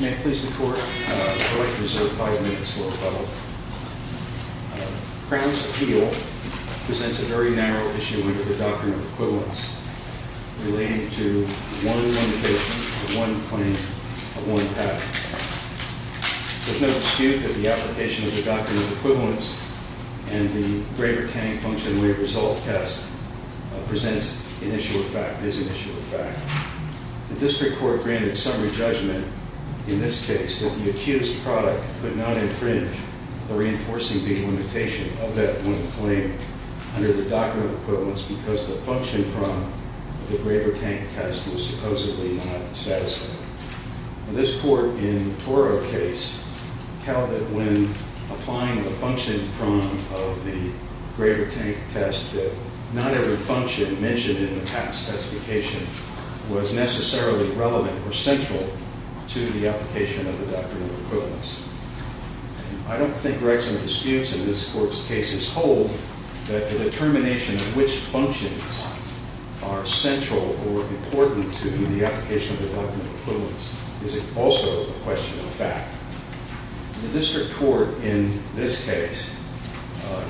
May I please the Court, I would like to reserve five minutes for appeal. Crown's appeal presents a very narrow issue under the doctrine of equivalence relating to one limitation, one claim, of one patent. There's no dispute that the application of the doctrine of equivalence and the Graver-Tang function-way result test presents an issue of fact, is an issue of fact. The District Court granted summary judgment in this case that the accused product could not infringe the reinforcing being limitation of that one claim under the doctrine of equivalence because the function prong of the Graver-Tang test was supposedly not satisfying. This Court in Toro case held that when applying the function prong of the Graver-Tang test that not every function mentioned in the past testification was necessarily relevant or central to the application of the doctrine of equivalence. I don't think Rexam disputes in this Court's cases hold that the determination of which functions are central or important to the application of the doctrine of equivalence is also a question of fact. The District Court in this case,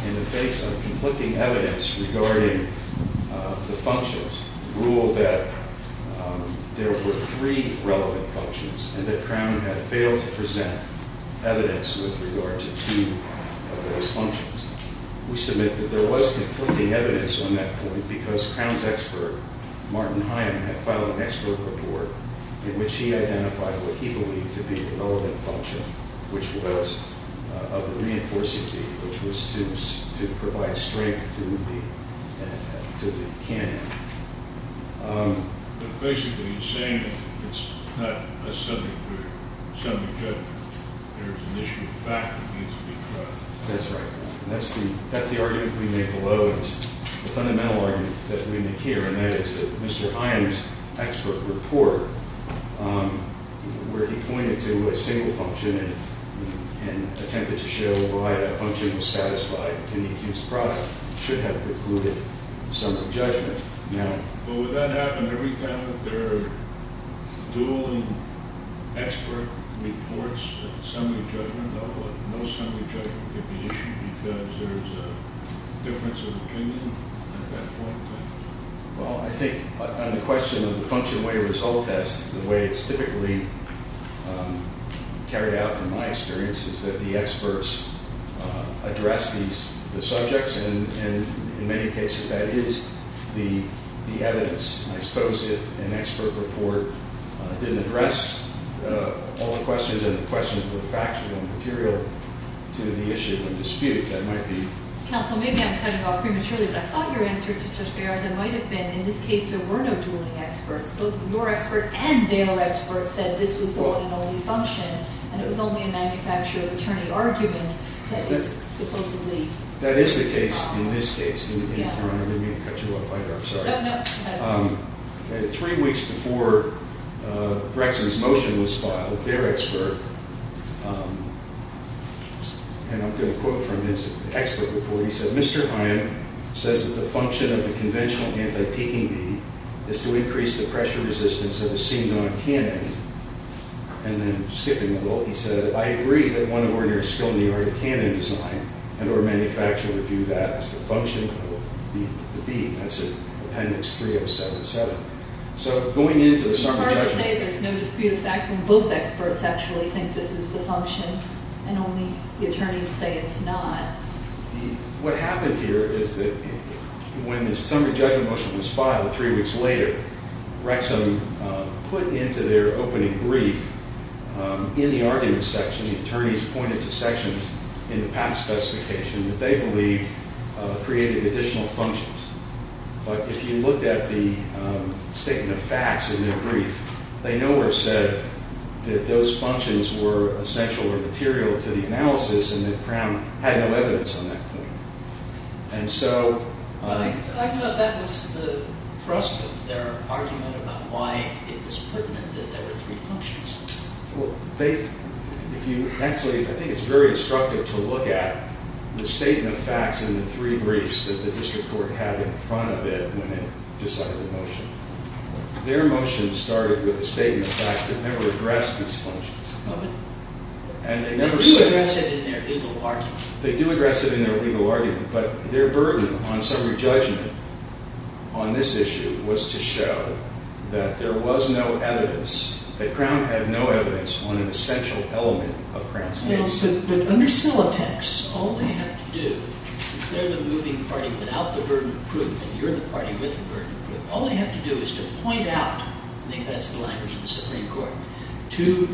in the face of conflicting evidence regarding the functions, ruled that there were three relevant functions and that Crown had failed to present evidence with regard to two of those functions. We submit that there was conflicting evidence on that point because Crown's expert, Martin Hyam, had filed an expert report in which he identified what he believed to be a relevant function, which was of the reinforcing being, which was to provide strength to the cannon. But basically he's saying it's not a subject where there's an issue of fact that needs to be tried. That's right. And that's the argument we make below. It's the fundamental argument that we make here, and that is that Mr. Hyam's expert report, where he pointed to a single function and attempted to show why that function was satisfied in the accused product, should have precluded assembly judgment. But would that happen every time that there are dueling expert reports at assembly judgment? No assembly judgment could be issued because there's a difference of opinion at that point? Well, I think on the question of the function way result test, the way it's typically carried out from my experience is that the experts address the subjects, and in many cases that is the evidence. I suppose if an expert report didn't address all the questions and the questions were factual and material to the issue and dispute it, that might be... Counsel, maybe I'm cutting off prematurely, but I thought your answer to Judge Baer's might have been in this case there were no dueling experts. Both your expert and their expert said this was the one and only function, and it was only a manufacturer attorney argument that is supposedly... That is the case in this case. I'm going to cut you off right here. I'm sorry. No, no. Three weeks before Braxton's motion was filed, their expert, and I'm going to quote from his expert report. He said, Mr. Hyam says that the function of the conventional anti-peaking bead is to increase the pressure resistance of a C-non-canon. And then skipping a little, he said, I agree that one of ordinary skill in the art of canon design, and our manufacturer view that as the function of the bead. That's in appendix 3077. So going into the... It's hard to say there's no dispute of fact when both experts actually think this is the What happened here is that when the summary judgment motion was filed three weeks later, Rexham put into their opening brief in the argument section, the attorneys pointed to sections in the patent specification that they believe created additional functions. But if you looked at the statement of facts in their brief, they nowhere said that those And so... I thought that was the thrust of their argument about why it was pertinent that there were three functions. Well, if you actually... I think it's very instructive to look at the statement of facts in the three briefs that the district court had in front of it when it decided the motion. Their motion started with a statement of facts that never addressed these functions. And they never said... They do address it in their legal argument, but their burden on summary judgment on this issue was to show that there was no evidence, that Crown had no evidence on an essential element of Crown's case. But under Silatex, all they have to do, since they're the moving party without the burden of proof and you're the party with the burden of proof, all they have to do is to point out, I think that's the language of the Supreme Court, to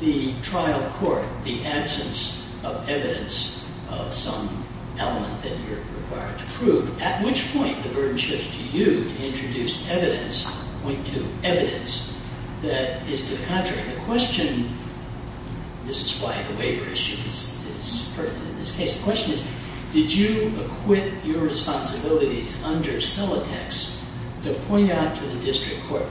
the trial court the absence of evidence of some element that you're required to prove. At which point, the burden shifts to you to introduce evidence, point to evidence that is to the contrary. The question... This is why the waiver issue is pertinent in this case. The question is, did you acquit your responsibilities under Silatex to point out to the district court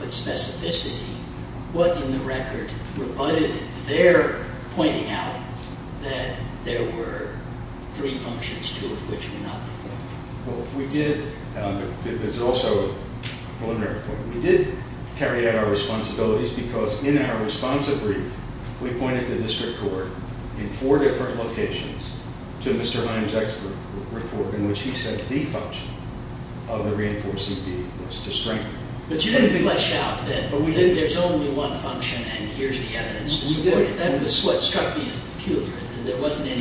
three functions, two of which were not before? Well, we did... This is also a preliminary point. We did carry out our responsibilities because in our responsive brief, we pointed to the district court in four different locations to Mr. Himes' expert report in which he said the function of the reinforcing deed was to strengthen... But you didn't flesh out that there's only one function and here's the evidence. That's what struck me peculiar. There wasn't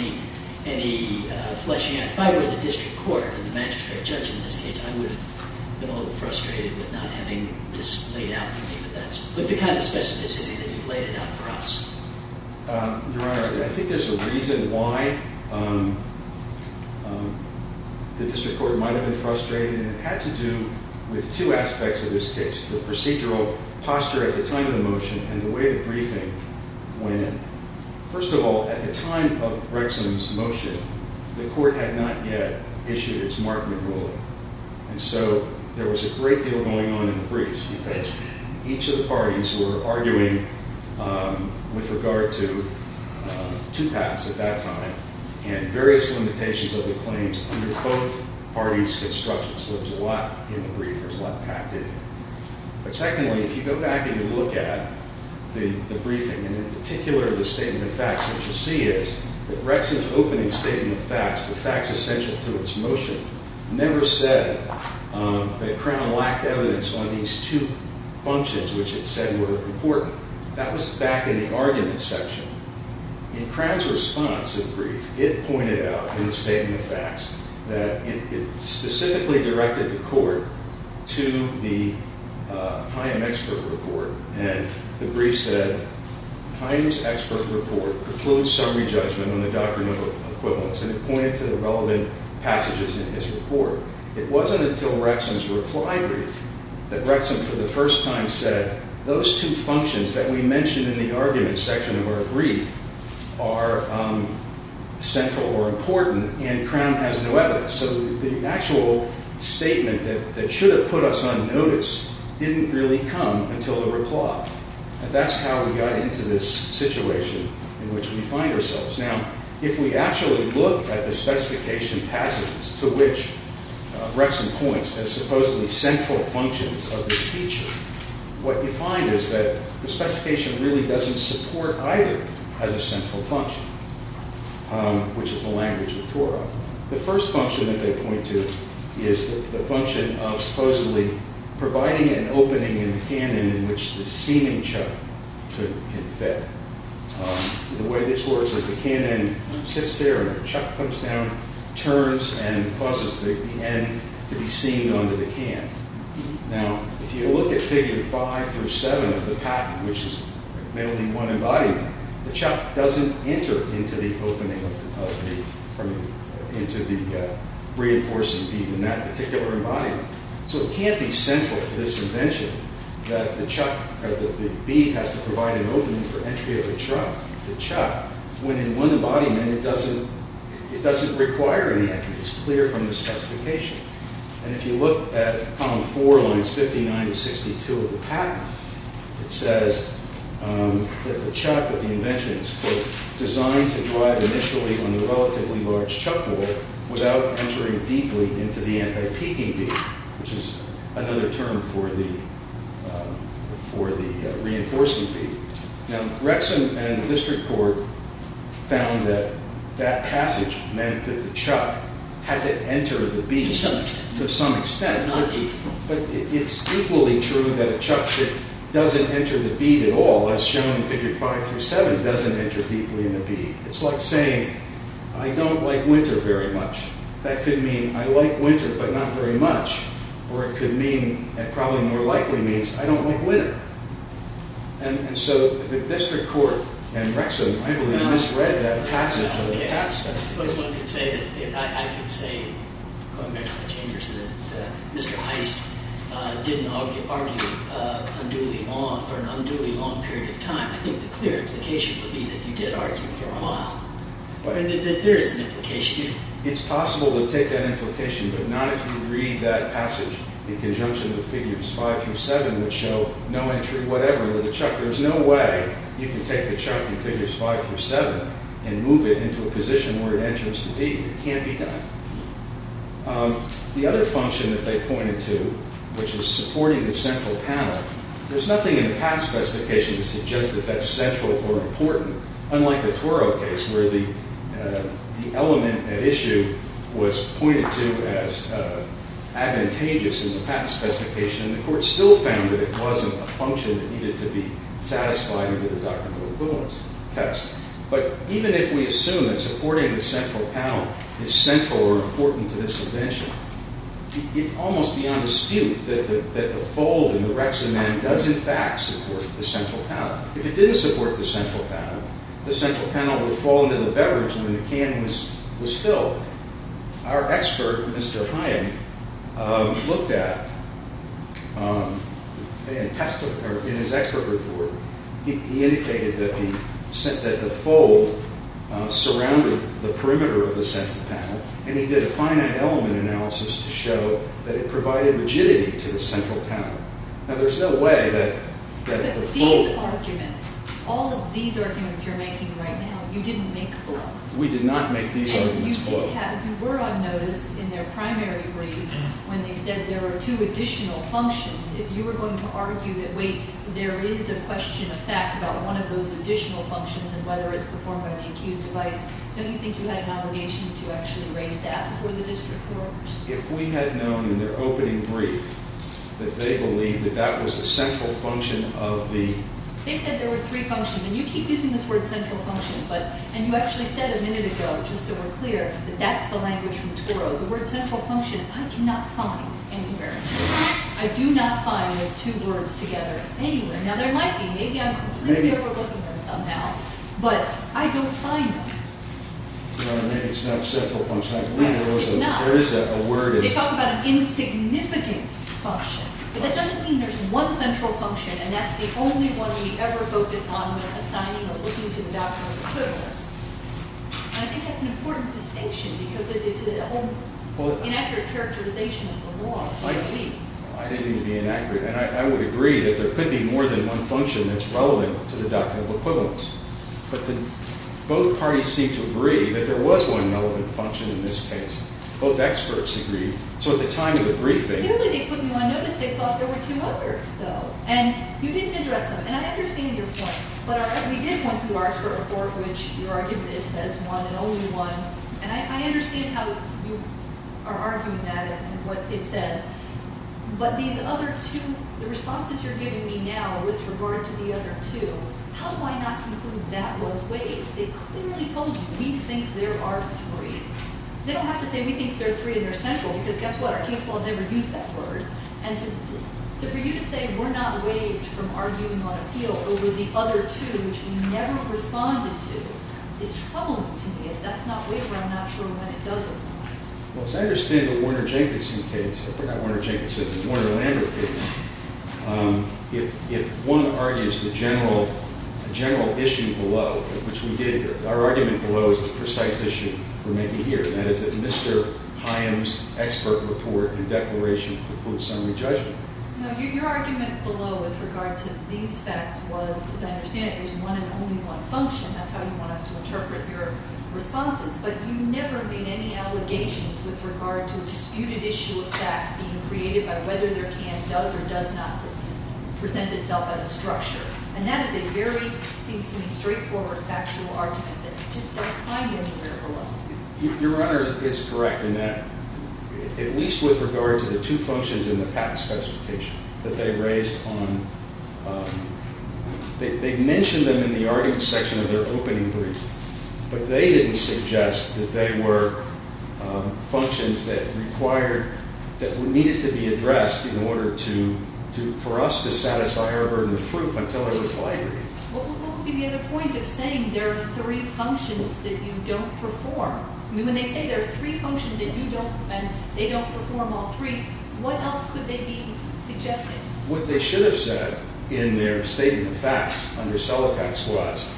any fleshing out. If I were the district court and the magistrate judge in this case, I would have been a little frustrated with not having this laid out for me. But that's the kind of specificity that you've laid it out for us. Your Honor, I think there's a reason why the district court might have been frustrated and it had to do with two aspects of this case. The procedural posture at the time of the motion and the way the briefing went in. First of all, at the time of Rexham's motion, the court had not yet issued its Markman ruling. And so there was a great deal going on in the briefs because each of the parties were arguing with regard to two paths at that time and various limitations of the claims under both parties' constructions. So there's a lot in the brief, there's a lot packed in. But secondly, if you go back and you look at the briefing and in particular the statement of facts, what you'll see is that Rexham's opening statement of facts, the facts essential to its motion, never said that Crown lacked evidence on these two functions which it said were important. That was back in the argument section. In Crown's response to the brief, it pointed out in the statement of facts that it specifically directed the court to the Chaim expert report. And the brief said, Chaim's expert report precludes summary judgment on the doctrine of equivalence. And it pointed to the relevant passages in his report. It wasn't until Rexham's reply brief that Rexham for the first time said, those two are central or important and Crown has no evidence. So the actual statement that should have put us on notice didn't really come until the reply. And that's how we got into this situation in which we find ourselves. Now, if we actually look at the specification passages to which Rexham points as supposedly central functions of this feature, what you find is that the specification really doesn't support either as a central function, which is the language of Torah. The first function that they point to is the function of supposedly providing an opening in the canon in which the seaming chuck can fit. The way this works is the canon sits there and the chuck comes down, turns, and causes Now, if you look at figure five through seven of the patent, which is mainly one embodiment, the chuck doesn't enter into the reinforcing bead in that particular embodiment. So it can't be central to this invention that the bead has to provide an opening for entry of the chuck. The chuck, when in one embodiment, it doesn't require any entry. It's clear from the specification. And if you look at column four, lines 59 and 62 of the patent, it says that the chuck of the invention is, quote, designed to drive initially on the relatively large chuck bolt without entering deeply into the anti-peaking bead, which is another term for the reinforcing bead. Now, Rexham and the district court found that that passage meant that the chuck had to enter the bead to some extent. But it's equally true that a chuck that doesn't enter the bead at all, as shown in figure five through seven, doesn't enter deeply in the bead. It's like saying, I don't like winter very much. That could mean, I like winter, but not very much. Or it could mean, and probably more likely means, I don't like winter. And so the district court and Rexham, I believe, misread that passage. I suppose one could say that, I could say, Mr. Heist didn't argue unduly long, for an unduly long period of time. I think the clear implication would be that you did argue for a while. There is an implication. It's possible to take that implication, but not if you read that passage in conjunction with figures five through seven, which show no entry whatever into the chuck. There's no way you can take the chuck in figures five through seven and move it into a position where it enters the bead. It can't be done. The other function that they pointed to, which was supporting the central panel, there's nothing in the patent specification to suggest that that's central or important, unlike the Toro case, where the element at issue was pointed to as advantageous in the patent specification. And the court still found that it wasn't a function that needed to be satisfied under the doctrinal equivalence test. But even if we assume that supporting the central panel is central or important to this invention, it's almost beyond dispute that the fold in the Rexham Act does, in fact, support the central panel. If it didn't support the central panel, the central panel would fall into the beverage when the can was filled. Our expert, Mr. Hyam, looked at, in his expert report, he indicated that the fold surrounded the perimeter of the central panel, and he did a finite element analysis to show that it provided rigidity to the central panel. Now, there's no way that the fold... But these arguments, all of these arguments you're making right now, you didn't make below. We did not make these arguments below. If you were on notice in their primary brief when they said there were two additional functions, if you were going to argue that, wait, there is a question of fact about one of those additional functions and whether it's performed by the accused device, don't you think you had an obligation to actually raise that before the district court? If we had known in their opening brief that they believed that that was a central function of the... They said there were three functions, and you keep using this word central function, and you actually said a minute ago, just so we're clear, that that's the language from Toro. The word central function, I cannot find anywhere. I do not find those two words together anywhere. Now, there might be. Maybe I'm completely overlooking them somehow, but I don't find them. Maybe it's not central function. I believe there is a word... They talk about an insignificant function, but that doesn't mean there's one central function, and that's the only one we ever focus on when assigning or looking to the doctrine of equivalence. I think that's an important distinction because it's an inaccurate characterization of the law. I didn't mean to be inaccurate. I would agree that there could be more than one function that's relevant to the doctrine of equivalence, but both parties seem to agree that there was one relevant function in this case. Both experts agree. So at the time of the briefing... Apparently they put me on notice. They thought there were two others, though, and you didn't address them, and I understand your point, but we did point to our expert report, which your argument is says one and only one, and I understand how you are arguing that and what it says, but these other two, the responses you're giving me now with regard to the other two, how do I not conclude that was waived? They clearly told you, we think there are three. They don't have to say, we think there are three and they're central, because guess what? Our case law never used that word, and so for you to say we're not waived from arguing on appeal over the other two, which you never responded to, is troubling to me. If that's not waived, I'm not sure when it doesn't. Well, as I understand the Warner-Jenkinson case, I forgot Warner-Jenkinson, the Warner-Lander case, if one argues the general issue below, which we did here, our argument below is the precise issue we're making here. That is that Mr. Payam's expert report and declaration include summary judgment. No, your argument below with regard to these facts was, as I understand it, there's one and only one function. That's how you want us to interpret your responses, but you never made any allegations with regard to a disputed issue of fact being created by whether their can does or does not present itself as a structure, and that is a very, seems to me, straightforward factual argument that I just don't find anywhere below. Your Honor is correct in that, at least with regard to the two functions in the patent specification that they raised on, they mentioned them in the argument section of their opening brief, but they didn't suggest that they were functions that required, that needed to be addressed in order to, for us to satisfy our burden of proof until a reply brief. What would be the other point of saying there are three functions that you don't perform? I mean, when they say there are three functions that you don't, and they don't perform all three, what else could they be suggesting? What they should have said in their statement of facts under Celotax was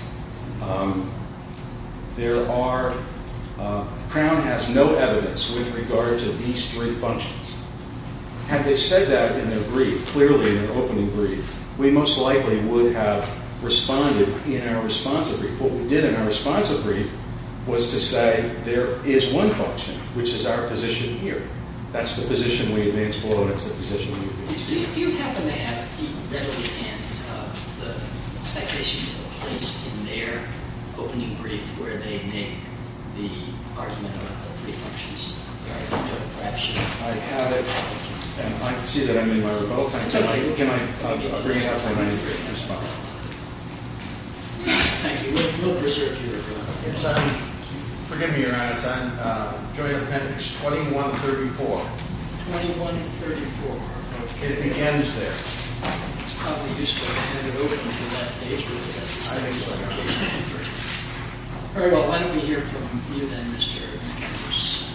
there are, Crown has no evidence with regard to these three functions. Had they said that in their brief, clearly in their opening brief, we most likely would have responded in our responsive brief. What we did in our responsive brief was to say there is one function, which is our position here. That's the position we advance below, and it's the position we advance here. You happen to have, readily, the citation that was placed in their opening brief where they make the argument about the three functions. I have it, and I can see that I'm in my remote. I'll bring it up in my response. Thank you. We'll preserve your time. Forgive me, Your Honor. It's on Joint Appendix 2134. 2134. It begins there. It's probably useful. In the opening to that page where it says the citation is referred to. All right. Well, why don't we hear from you, then, Mr. Celotax. Thank you, Your Honor. Good afternoon,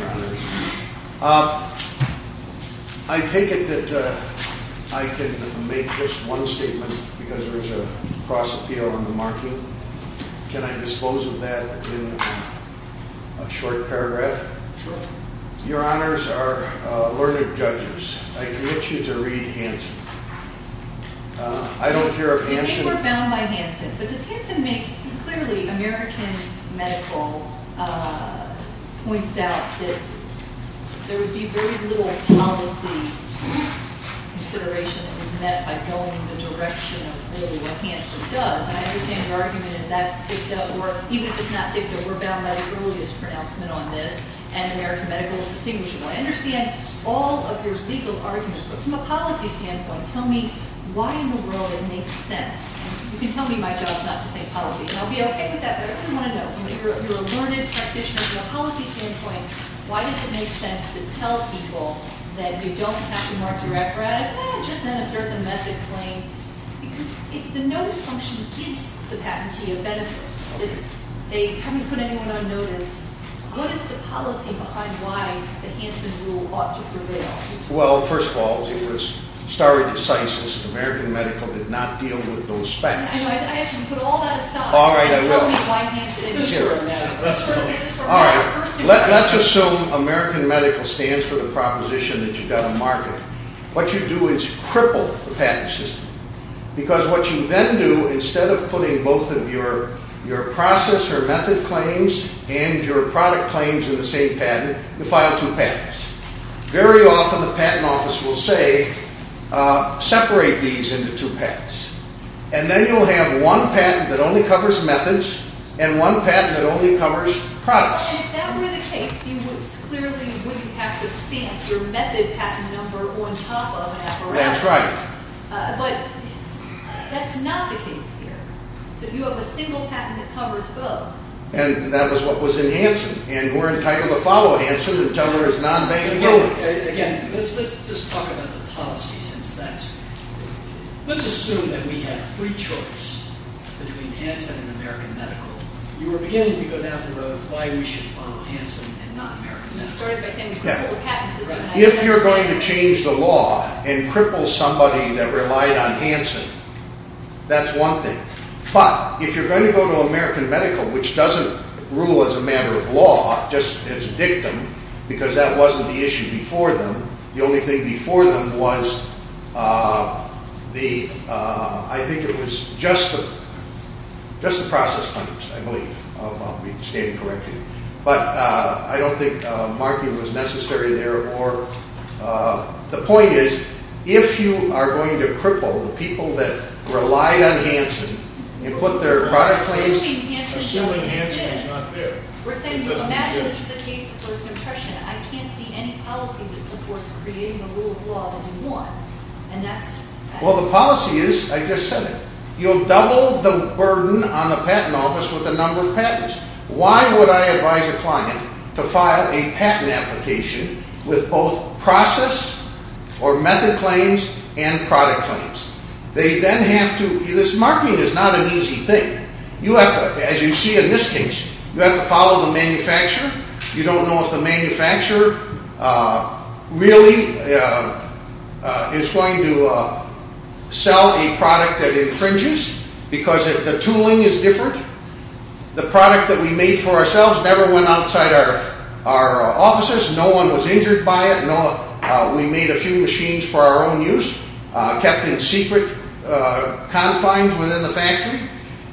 Your Honor. I take it that I can make just one statement because there is a cross appeal on the marking. Can I dispose of that in a short paragraph? Sure. Your Honors are learned judges. I commit you to read Hansen. I don't care if Hansen... There would be very little policy consideration that was met by going in the direction of what Hansen does. And I understand your argument is that's dicta, or even if it's not dicta, we're bound by the earliest pronouncement on this. And American medical is distinguishable. I understand all of your legal arguments, but from a policy standpoint, tell me why in the world it makes sense. You can tell me my job is not to think policy, and I'll be okay with that, but I really want to know. You're a learned practitioner from a policy standpoint. Why does it make sense to tell people that you don't have to mark your apparatus? Eh, just in a certain method claims. Because the notice function gives the patentee a benefit. They haven't put anyone on notice. What is the policy behind why the Hansen rule ought to prevail? Well, first of all, it was starry decisiveness. American medical did not deal with those facts. All right, I will. Let's assume American medical stands for the proposition that you've got to market. What you do is cripple the patent system. Because what you then do, instead of putting both of your process or method claims and your product claims in the same patent, you file two patents. Very often the patent office will say, separate these into two patents. And then you'll have one patent that only covers methods and one patent that only covers products. If that were the case, you clearly wouldn't have to see your method patent number on top of an apparatus. That's right. But that's not the case here. So you have a single patent that covers both. And that was what was in Hansen. And we're entitled to follow Hansen until there is non-banking. Again, let's just talk about the policy. Let's assume that we had a free choice between Hansen and American medical. You were beginning to go down the road of why we should follow Hansen and not American medical. You started by saying cripple the patent system. If you're going to change the law and cripple somebody that relied on Hansen, that's one thing. But if you're going to go to American medical, which doesn't rule as a matter of law, just as a dictum, because that wasn't the issue before them. The only thing before them was, I think it was just the process claims, I believe, if I'm stating correctly. But I don't think marking was necessary there. The point is, if you are going to cripple the people that relied on Hansen and put their product claims. Assuming Hansen is not there. We're saying, imagine this is a case of first impression. I can't see any policy that supports creating a rule of law that you want. Well, the policy is, I just said it. You'll double the burden on the patent office with the number of patents. Why would I advise a client to file a patent application with both process or method claims and product claims? This marking is not an easy thing. As you see in this case, you have to follow the manufacturer. You don't know if the manufacturer really is going to sell a product that infringes. Because the tooling is different. The product that we made for ourselves never went outside our offices. No one was injured by it. We made a few machines for our own use. Kept in secret confines within the factory.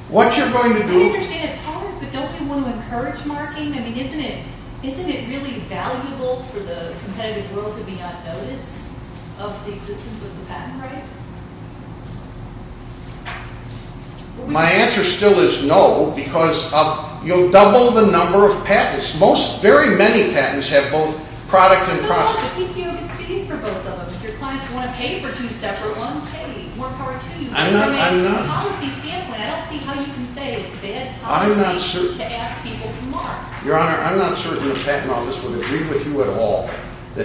What you're going to do... I understand it's hard, but don't you want to encourage marking? I mean, isn't it really valuable for the competitive world to be on notice of the existence of the patent rights? My answer still is no. Because you'll double the number of patents. Very many patents have both product and process. But the PTO gets fees for both of them. If your clients want to pay for two separate ones, hey, more power to you. From a policy standpoint, I don't see how you can say it's bad policy to ask people to mark. Your Honor, I'm not certain the patent office would agree with you at all.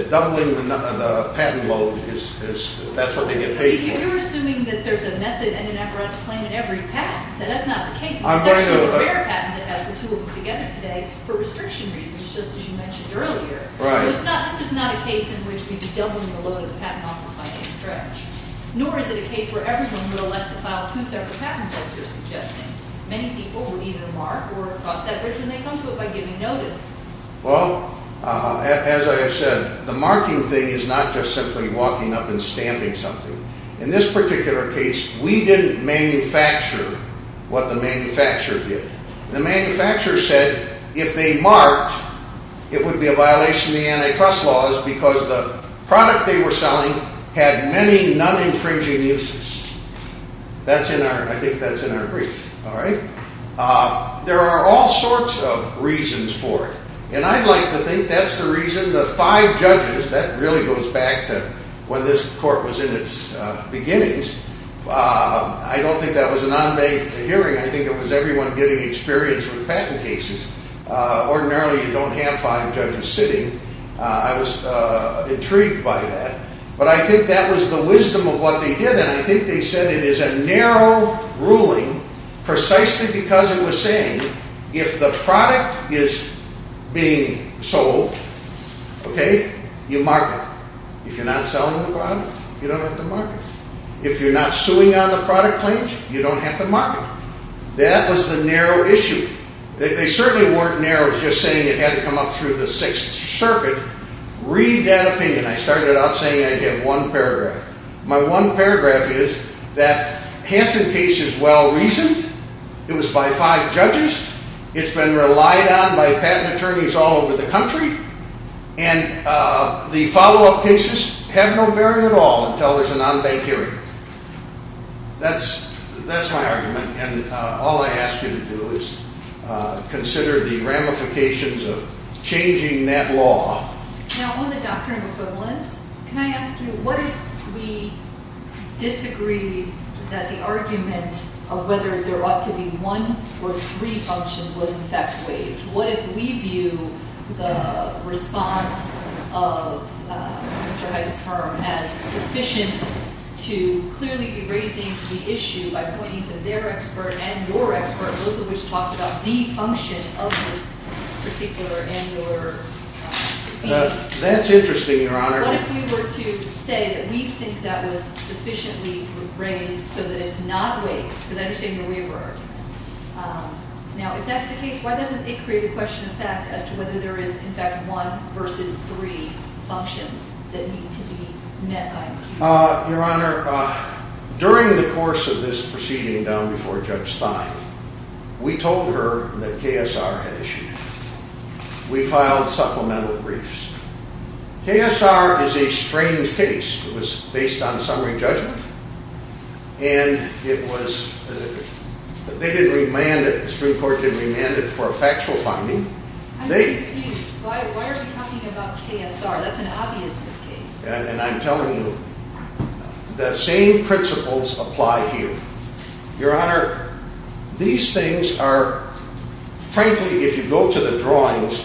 Doubling the patent load, that's what they get paid for. You're assuming that there's a method and an apparatus claim in every patent. That's not the case. That's the rare patent that has the two of them together today for restriction reasons, just as you mentioned earlier. This is not a case in which we'd be doubling the load of the patent office by any stretch. Nor is it a case where everyone would elect to file two separate patent sets, you're suggesting. Many people would either mark or cross that bridge, and they come to it by giving notice. Well, as I have said, the marking thing is not just simply walking up and stamping something. In this particular case, we didn't manufacture what the manufacturer did. The manufacturer said if they marked, it would be a violation of the antitrust laws because the product they were selling had many non-infringing uses. I think that's in our brief. There are all sorts of reasons for it, and I'd like to think that's the reason the five judges— that really goes back to when this court was in its beginnings. I don't think that was a non-bank hearing. I think it was everyone getting experience with patent cases. Ordinarily, you don't have five judges sitting. I was intrigued by that. But I think that was the wisdom of what they did, and I think they said it is a narrow ruling precisely because it was saying if the product is being sold, you mark it. If you're not selling the product, you don't have to mark it. If you're not suing on the product claims, you don't have to mark it. That was the narrow issue. They certainly weren't narrow just saying it had to come up through the Sixth Circuit. Read that opinion. I started out saying I'd get one paragraph. My one paragraph is that Hansen case is well-reasoned. It was by five judges. It's been relied on by patent attorneys all over the country, and the follow-up cases have no bearing at all until there's a non-bank hearing. That's my argument, and all I ask you to do is consider the ramifications of changing that law. Now, on the doctrine of equivalence, can I ask you, what if we disagree that the argument of whether there ought to be one or three functions was in fact waived? What if we view the response of Mr. Heiss's firm as sufficient to clearly be raising the issue by pointing to their expert and your expert, both of which talk about the function of this particular and your opinion? That's interesting, Your Honor. What if we were to say that we think that was sufficiently raised so that it's not waived? Because I understand your wayward argument. Now, if that's the case, why doesn't it create a question of fact as to whether there is in fact one versus three functions that need to be met by an appeal? Your Honor, during the course of this proceeding down before Judge Stein, we told her that KSR had issued it. We filed supplemental briefs. KSR is a strange case. It was based on summary judgment, and it was—they didn't remand it. The Supreme Court didn't remand it for a factual finding. I'm confused. Why are you talking about KSR? That's an obvious miscase. And I'm telling you, the same principles apply here. Your Honor, these things are—frankly, if you go to the drawings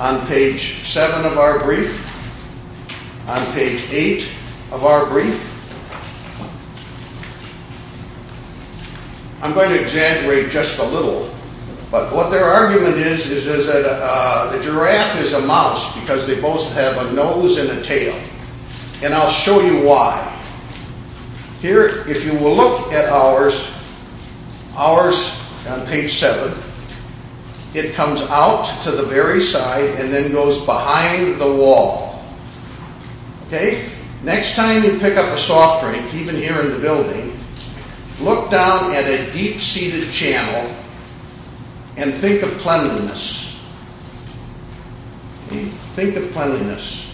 on page 7 of our brief, on page 8 of our brief, I'm going to exaggerate just a little. But what their argument is, is that a giraffe is a mouse because they both have a nose and a tail. And I'll show you why. Here, if you will look at ours, ours on page 7, it comes out to the very side and then goes behind the wall. Okay? Next time you pick up a soft drink, even here in the building, look down at a deep-seated channel and think of cleanliness. Think of cleanliness.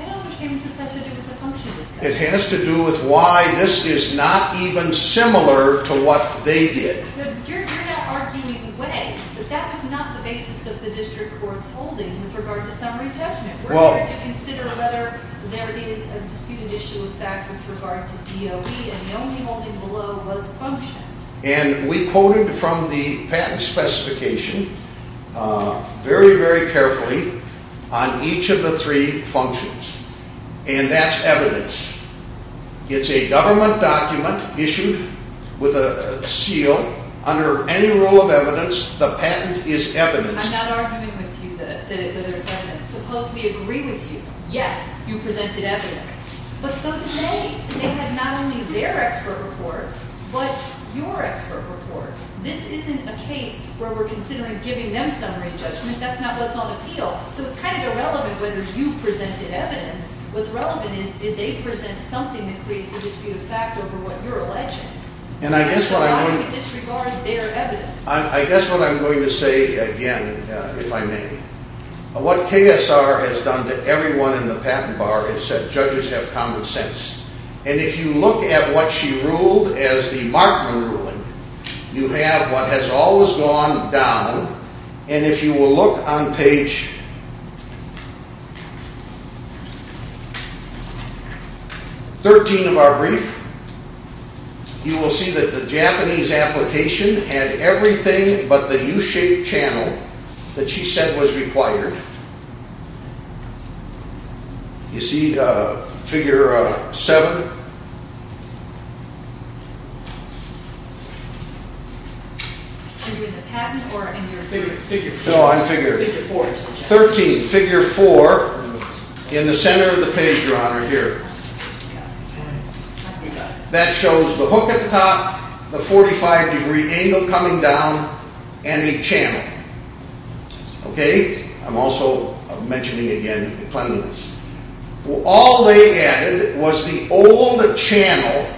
I don't understand what this has to do with the function of this case. It has to do with why this is not even similar to what they did. You're not arguing the way, but that is not the basis of the district court's holding with regard to summary judgment. We're here to consider whether there is a disputed issue of fact with regard to DOE, and the only holding below was function. And we quoted from the patent specification very, very carefully on each of the three functions. And that's evidence. It's a government document issued with a seal. Under any rule of evidence, the patent is evidence. I'm not arguing with you that there's evidence. Suppose we agree with you. Yes, you presented evidence. But some say they had not only their expert report but your expert report. This isn't a case where we're considering giving them summary judgment. That's not what's on appeal. So it's kind of irrelevant whether you presented evidence. What's relevant is did they present something that creates a disputed fact over what you're alleging. And I guess what I'm going to say again, if I may, what KSR has done to everyone in the patent bar is said judges have common sense. And if you look at what she ruled as the Markman ruling, you have what has always gone down. And if you will look on page 13 of our brief, you will see that the Japanese application had everything but the U-shaped channel that she said was required. You see figure 7? Are you in the patent or in your figure? No, I'm figure. Figure 4. 13, figure 4 in the center of the page, Your Honor, here. That shows the hook at the top, the 45 degree angle coming down, and a channel. I'm also mentioning again the cleanliness. All they added was the old channel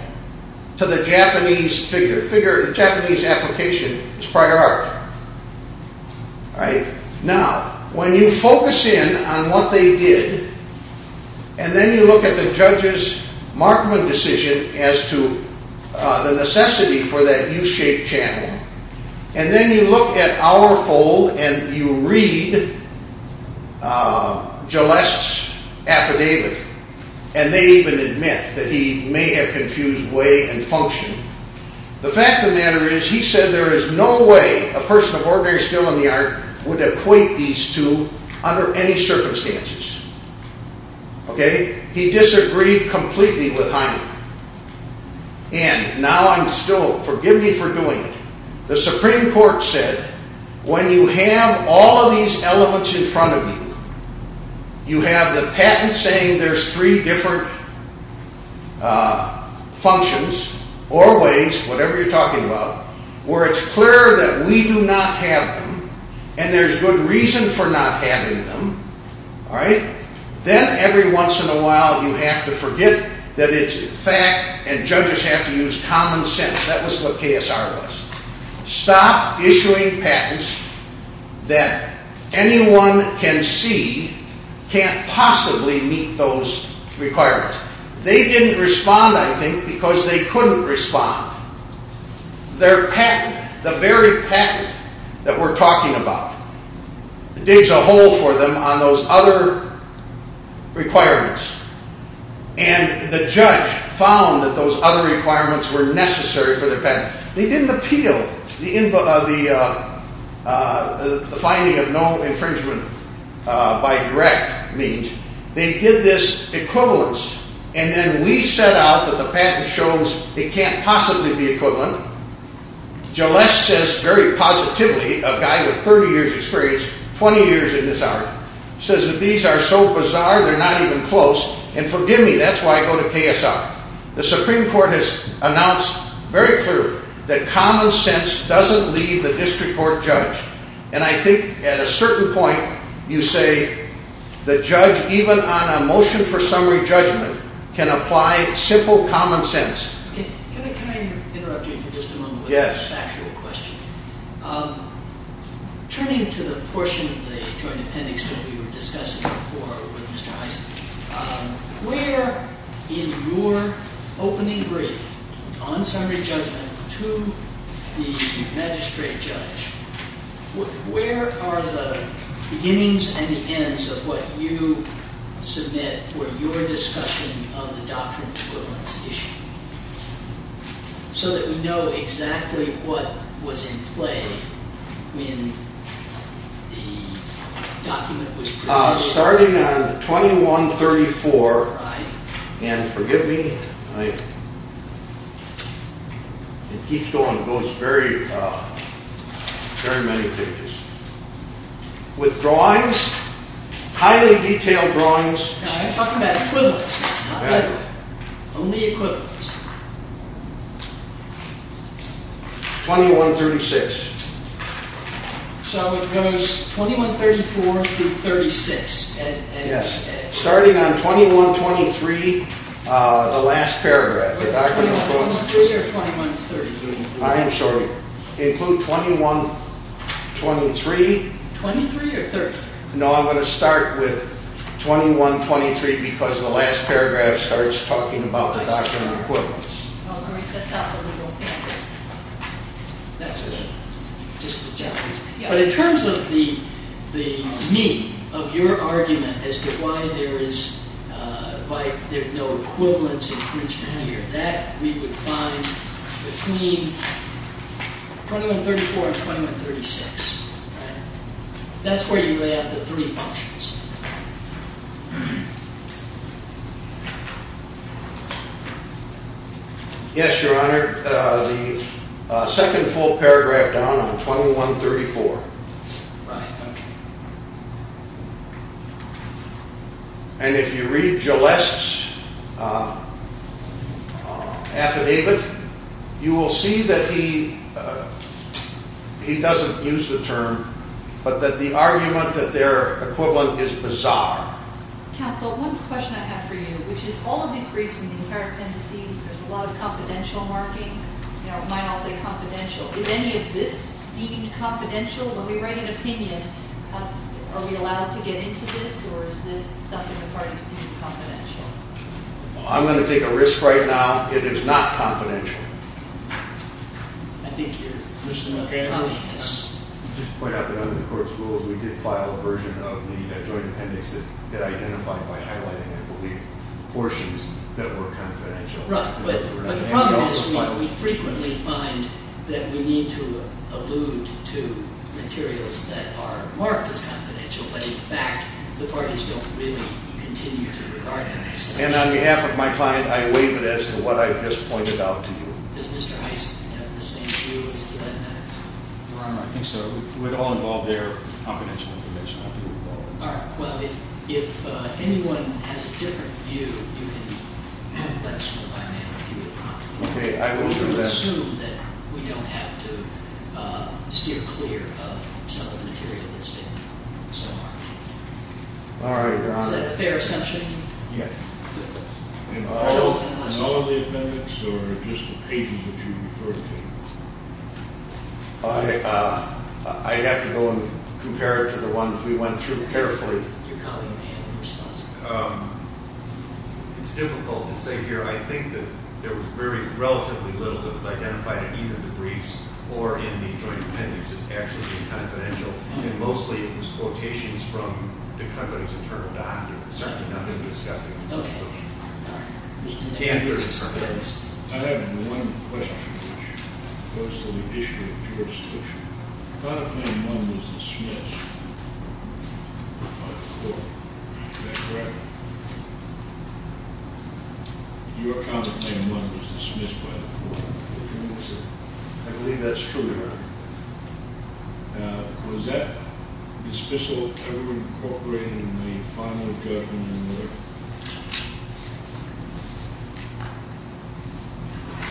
to the Japanese figure. The Japanese application is prior art. All right? Now, when you focus in on what they did, and then you look at the judge's Markman decision as to the necessity for that U-shaped channel, and then you look at our fold and you read Gilleste's affidavit, and they even admit that he may have confused way and function, the fact of the matter is he said there is no way a person of ordinary skill in the art would equate these two under any circumstances. Okay? He disagreed completely with Heine. And now I'm still, forgive me for doing it, the Supreme Court said when you have all of these elements in front of you, you have the patent saying there's three different functions or ways, whatever you're talking about, where it's clear that we do not have them, and there's good reason for not having them, all right? Then every once in a while you have to forget that it's fact, and judges have to use common sense. That was what KSR was. Stop issuing patents that anyone can see can't possibly meet those requirements. They didn't respond, I think, because they couldn't respond. Their patent, the very patent that we're talking about, digs a hole for them on those other requirements, and the judge found that those other requirements were necessary for the patent. They didn't appeal the finding of no infringement by direct means. They did this equivalence, and then we set out that the patent shows it can't possibly be equivalent. Gilles says very positively, a guy with 30 years' experience, 20 years in this art, says that these are so bizarre they're not even close, and forgive me, that's why I go to KSR. The Supreme Court has announced very clearly that common sense doesn't leave the district court judge, and I think at a certain point you say the judge, even on a motion for summary judgment, can apply simple common sense. Can I interrupt you for just a moment with a factual question? Turning to the portion of the Joint Appendix that we were discussing before with Mr. Heisenberg, where in your opening brief on summary judgment to the magistrate judge, where are the beginnings and the ends of what you submit for your discussion of the doctrine of equivalence issue? So that we know exactly what was in play when the document was presented. So starting on 2134, and forgive me, it keeps going, it goes very many pages. With drawings, highly detailed drawings. I'm talking about equivalence. Not that. Only equivalence. 2136. So it goes 2134 through 36. Yes. Starting on 2123, the last paragraph. 2123 or 2133? I am sorry. Include 2123. 23 or 33? No, I'm going to start with 2123 because the last paragraph starts talking about the doctrine of equivalence. That's it. But in terms of the need of your argument as to why there is no equivalence, that we would find between 2134 and 2136. That's where you lay out the three functions. Yes, Your Honor. The second full paragraph down on 2134. Right, okay. And if you read Gilleste's affidavit, you will see that he doesn't use the term, but that the argument that they're equivalent is bizarre. Counsel, one question I have for you, which is all of these briefs in the entire appendices, there's a lot of confidential marking. You know, it might all say confidential. Is any of this deemed confidential? When we write an opinion, are we allowed to get into this, or is this something the parties deemed confidential? Well, I'm going to take a risk right now. It is not confidential. I think you're, Mr. McCandless. Just to point out that under the court's rules, we did file a version of the joint appendix that identified, by highlighting, I believe, portions that were confidential. Right. But the problem is we frequently find that we need to allude to materials that are marked as confidential, but in fact the parties don't really continue to regard them as such. And on behalf of my client, I waive it as to what I've just pointed out to you. Does Mr. Heiss have the same view as to that matter? Your Honor, I think so. It would all involve their confidential information. All right. Well, if anyone has a different view, you can let us know by mail if you would like. Okay. I will do that. We can assume that we don't have to steer clear of some of the material that's been marked. All right, Your Honor. Is that a fair assumption? Yes. I don't know of the appendix or just the pages that you referred to. I'd have to go and compare it to the ones we went through carefully. Your colleague may have a response. It's difficult to say here. I think that there was relatively little that was identified in either the briefs or in the joint appendix as actually being confidential. And mostly it was quotations from the company's internal document. Certainly nothing discussing- Okay. All right. Mr. Moore. I have one question, which goes to the issue of jurisdiction. Counterclaim one was dismissed by the court. Is that correct? Your counterclaim one was dismissed by the court. I believe that's true, Your Honor. Now, was that dismissal ever incorporated in the final judgment in court?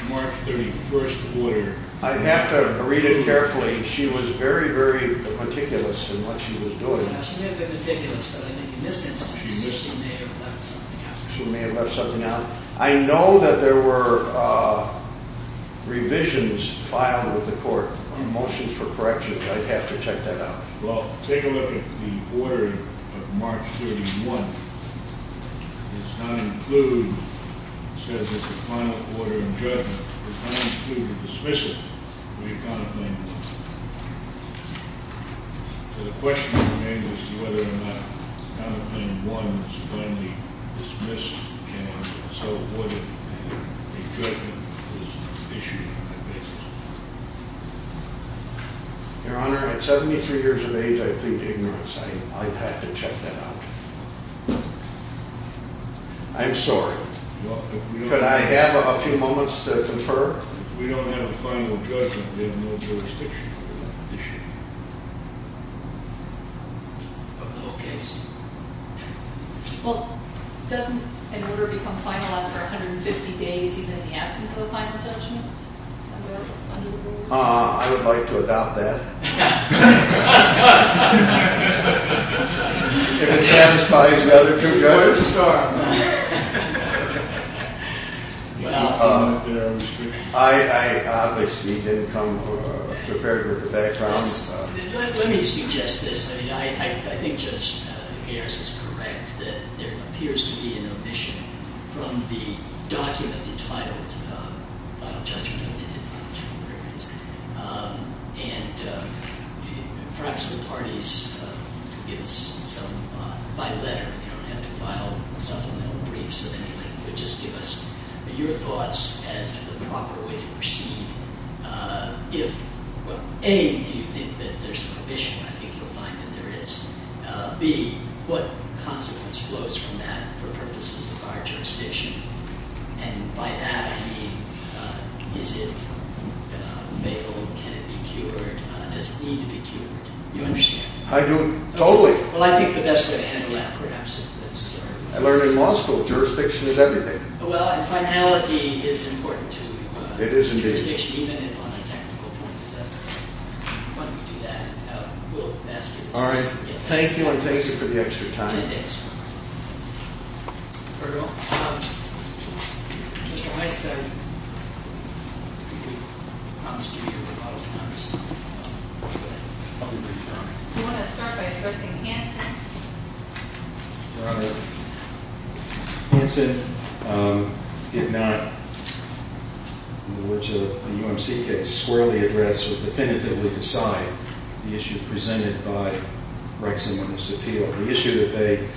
March 31st order. I'd have to read it carefully. She was very, very meticulous in what she was doing. She may have been meticulous, but I think in this instance she may have left something out. She may have left something out. I know that there were revisions filed with the court, motions for correction. I'd have to check that out. Well, take a look at the order of March 31. It's not included. It says that the final order in judgment does not include a dismissal of the counterclaim one. So the question remains as to whether or not counterclaim one was finally dismissed and so avoided a judgment was issued on that basis. Your Honor, at 73 years of age, I plead ignorance. I'd have to check that out. I'm sorry. Could I have a few moments to confer? If we don't have a final judgment, we have no jurisdiction over that issue. Okay. Well, doesn't an order become finalized for 150 days even in the absence of a final judgment? I would like to adopt that. If it satisfies the other two judges. Well, I obviously didn't come prepared with the background. Let me suggest this. I mean, I think Judge Nugaris is correct that there appears to be an omission from the document entitled Final Judgment of Independent Final Judgment Records. And perhaps the parties could give us some, by letter. You don't have to file supplemental briefs or anything. But just give us your thoughts as to the proper way to proceed. If, well, A, do you think that there's an omission? I think you'll find that there is. B, what consequence flows from that for purposes of our jurisdiction? And by that, I mean, is it available? Can it be cured? Does it need to be cured? You understand? I do, totally. Well, I think that that's going to handle that perhaps. I learned in law school, jurisdiction is everything. Well, and finality is important, too. It is, indeed. Jurisdiction, even if on a technical point, is important. Why don't we do that? We'll ask you this. All right. Thank you, and thank you for the extra time. No, thanks. Very well. Mr. Weiss, I promise to be here for a lot of time. Do you want to start by addressing Hanson? Your Honor, Hanson did not, in the words of a UMC case, squarely address or definitively decide the issue presented by Rexon on this appeal. The issue that they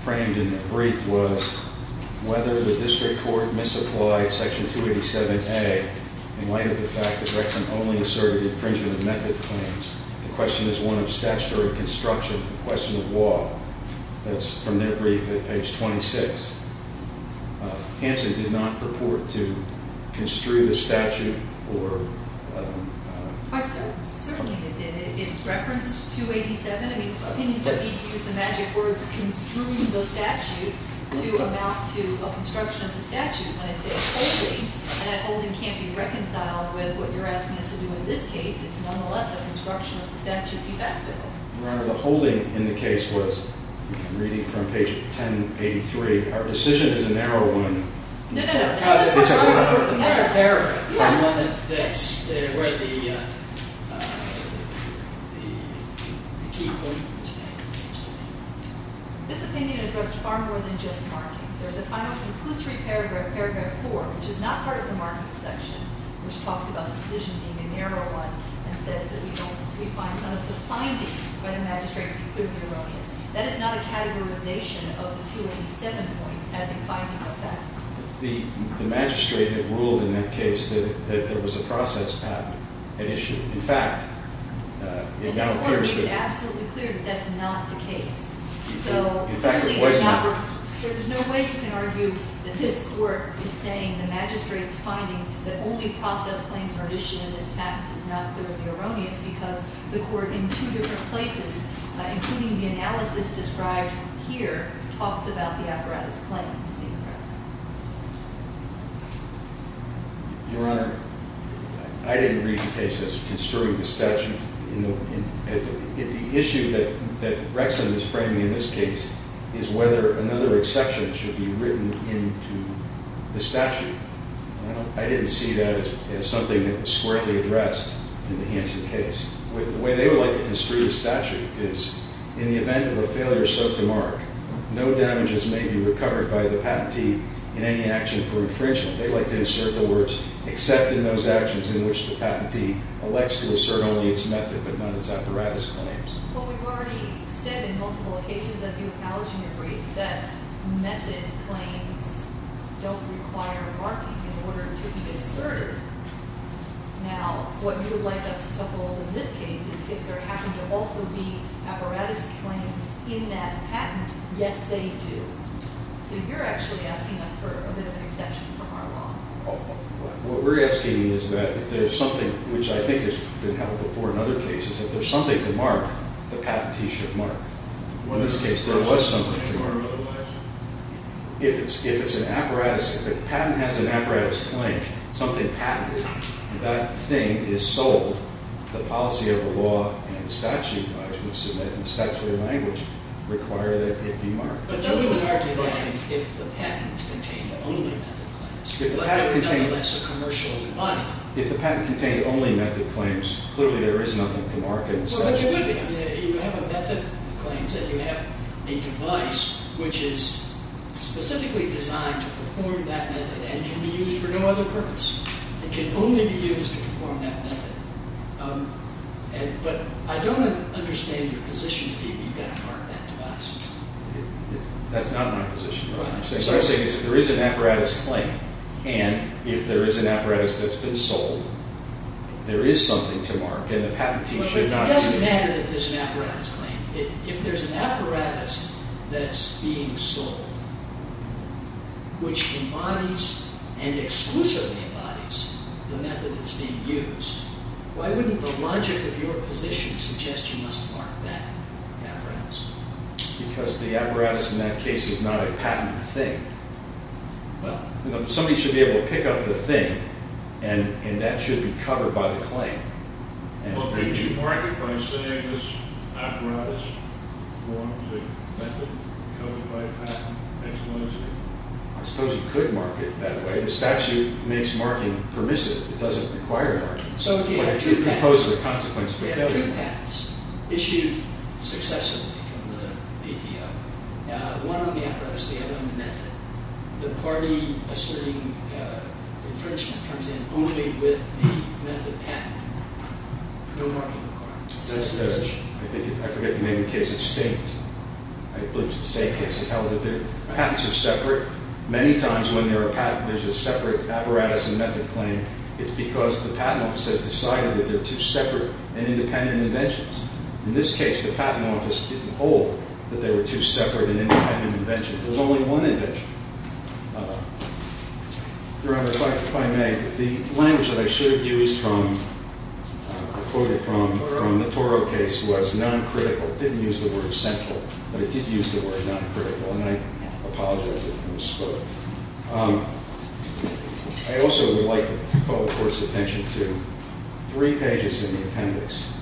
framed in their brief was whether the district court misapplied Section 287A in light of the fact that Rexon only asserted infringement of method claims. The question is one of statutory construction. The question of law. That's from their brief at page 26. Hanson did not purport to construe the statute or- Certainly it did. It referenced 287. I mean, opinions have been used, the magic words, construe the statute to amount to a construction of the statute. When it says holding, that holding can't be reconciled with what you're asking us to do in this case. It's nonetheless a construction of the statute, effectively. Your Honor, the holding in the case was, reading from page 1083, our decision is a narrow one. No, no, no. This opinion addressed far more than just marking. There's a final, conclusive paragraph, paragraph 4, which is not part of the marking section, which talks about the decision being a narrow one and says that we find none of the findings by the magistrate could be erroneous. That is not a categorization of the 287 point as a finding of that. The magistrate had ruled in that case that there was a process patent at issue. In fact, it now appears that- The court made it absolutely clear that that's not the case. In fact, it was not. There's no way you can argue that this court is saying the magistrate's finding that only process claims are issued in this patent is not clearly erroneous because the court in two different places, including the analysis described here, talks about the apparatus claims. Your Honor, I didn't read the case as construing the statute. The issue that Rexon is framing in this case is whether another exception should be written into the statute. I didn't see that as something that was squarely addressed in the Hansen case. The way they would like to construe the statute is, in the event of a failure so to mark, no damages may be recovered by the patentee in any action for infringement. They'd like to insert the words, except in those actions in which the patentee elects to assert only its method but not its apparatus claims. But we've already said in multiple occasions, as you acknowledge in your brief, that method claims don't require marking in order to be asserted. Now, what you would like us to hold in this case is if there happen to also be apparatus claims in that patent. Yes, they do. So you're actually asking us for a bit of an exception from our law. What we're asking is that if there's something, which I think has been held before in other cases, if there's something to mark, the patentee should mark. Well, in this case, there was something to mark. If it's an apparatus, if a patent has an apparatus claim, something patented, that thing is sold, the policy of the law and the statute, I would assume that in the statutory language, require that it be marked. But that would be marked again if the patent contained only method claims. If the patent contained only method claims, clearly there is nothing to mark in the statute. But you have a method claim and you have a device which is specifically designed to perform that method and can be used for no other purpose. It can only be used to perform that method. But I don't understand your position. Maybe you've got to mark that device. That's not my position. What I'm saying is if there is an apparatus claim and if there is an apparatus that's been sold, there is something to mark Well, it doesn't matter if there's an apparatus claim. If there's an apparatus that's being sold, which embodies and exclusively embodies the method that's being used, why wouldn't the logic of your position suggest you must mark that apparatus? Because the apparatus in that case is not a patented thing. Somebody should be able to pick up the thing and that should be covered by the claim. Well, can't you mark it by saying this apparatus performed the method, covered by a patent, makes legitimacy? I suppose you could mark it that way. The statute makes marking permissive. It doesn't require marking. So if you have two patents issued successively from the PTO, one on the apparatus, the other on the method, the party asserting infringement comes in only with the method patent. No marking required. That's the, I think, I forget the name of the case, it's State. I believe it's the State case. Patents are separate. Many times when there's a separate apparatus and method claim, it's because the patent office has decided that they're two separate and independent inventions. In this case, the patent office didn't hold that they were two separate and independent inventions. There's only one invention. Your Honor, if I may, the language that I should have used from, quoted from the Toro case was non-critical. It didn't use the word central, but it did use the word non-critical, and I apologize if I misspoke. I also would like the public court's attention to three pages in the appendix,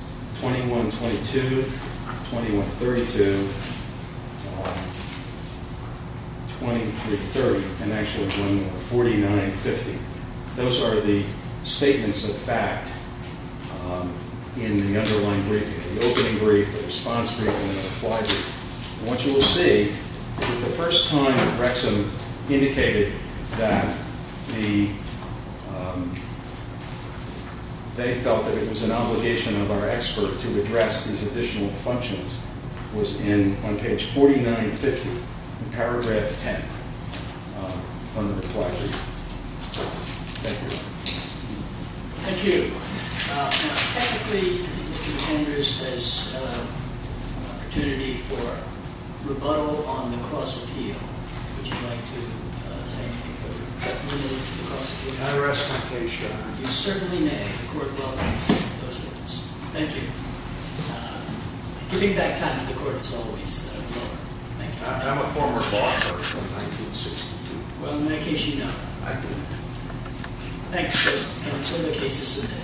21-22, 21-32, 23-30, and actually one more, 49-50. Those are the statements of fact in the underlying briefing, the opening brief, the response briefing, and the reply briefing. What you will see is that the first time Rexham indicated that the, they felt that it was an obligation of our expert to address these additional functions was in, on page 49-50, in paragraph 10 on the reply brief. Thank you. Thank you. Technically, Mr. Andrews has an opportunity for rebuttal on the cross appeal. Would you like to say anything further? I rest my case, Your Honor. You certainly may. The court welcomes those words. Thank you. Giving back time to the court is always welcome. Thank you. I'm a former law clerk from 1962. Well, in that case, you know. I do. Thanks for answering the cases today.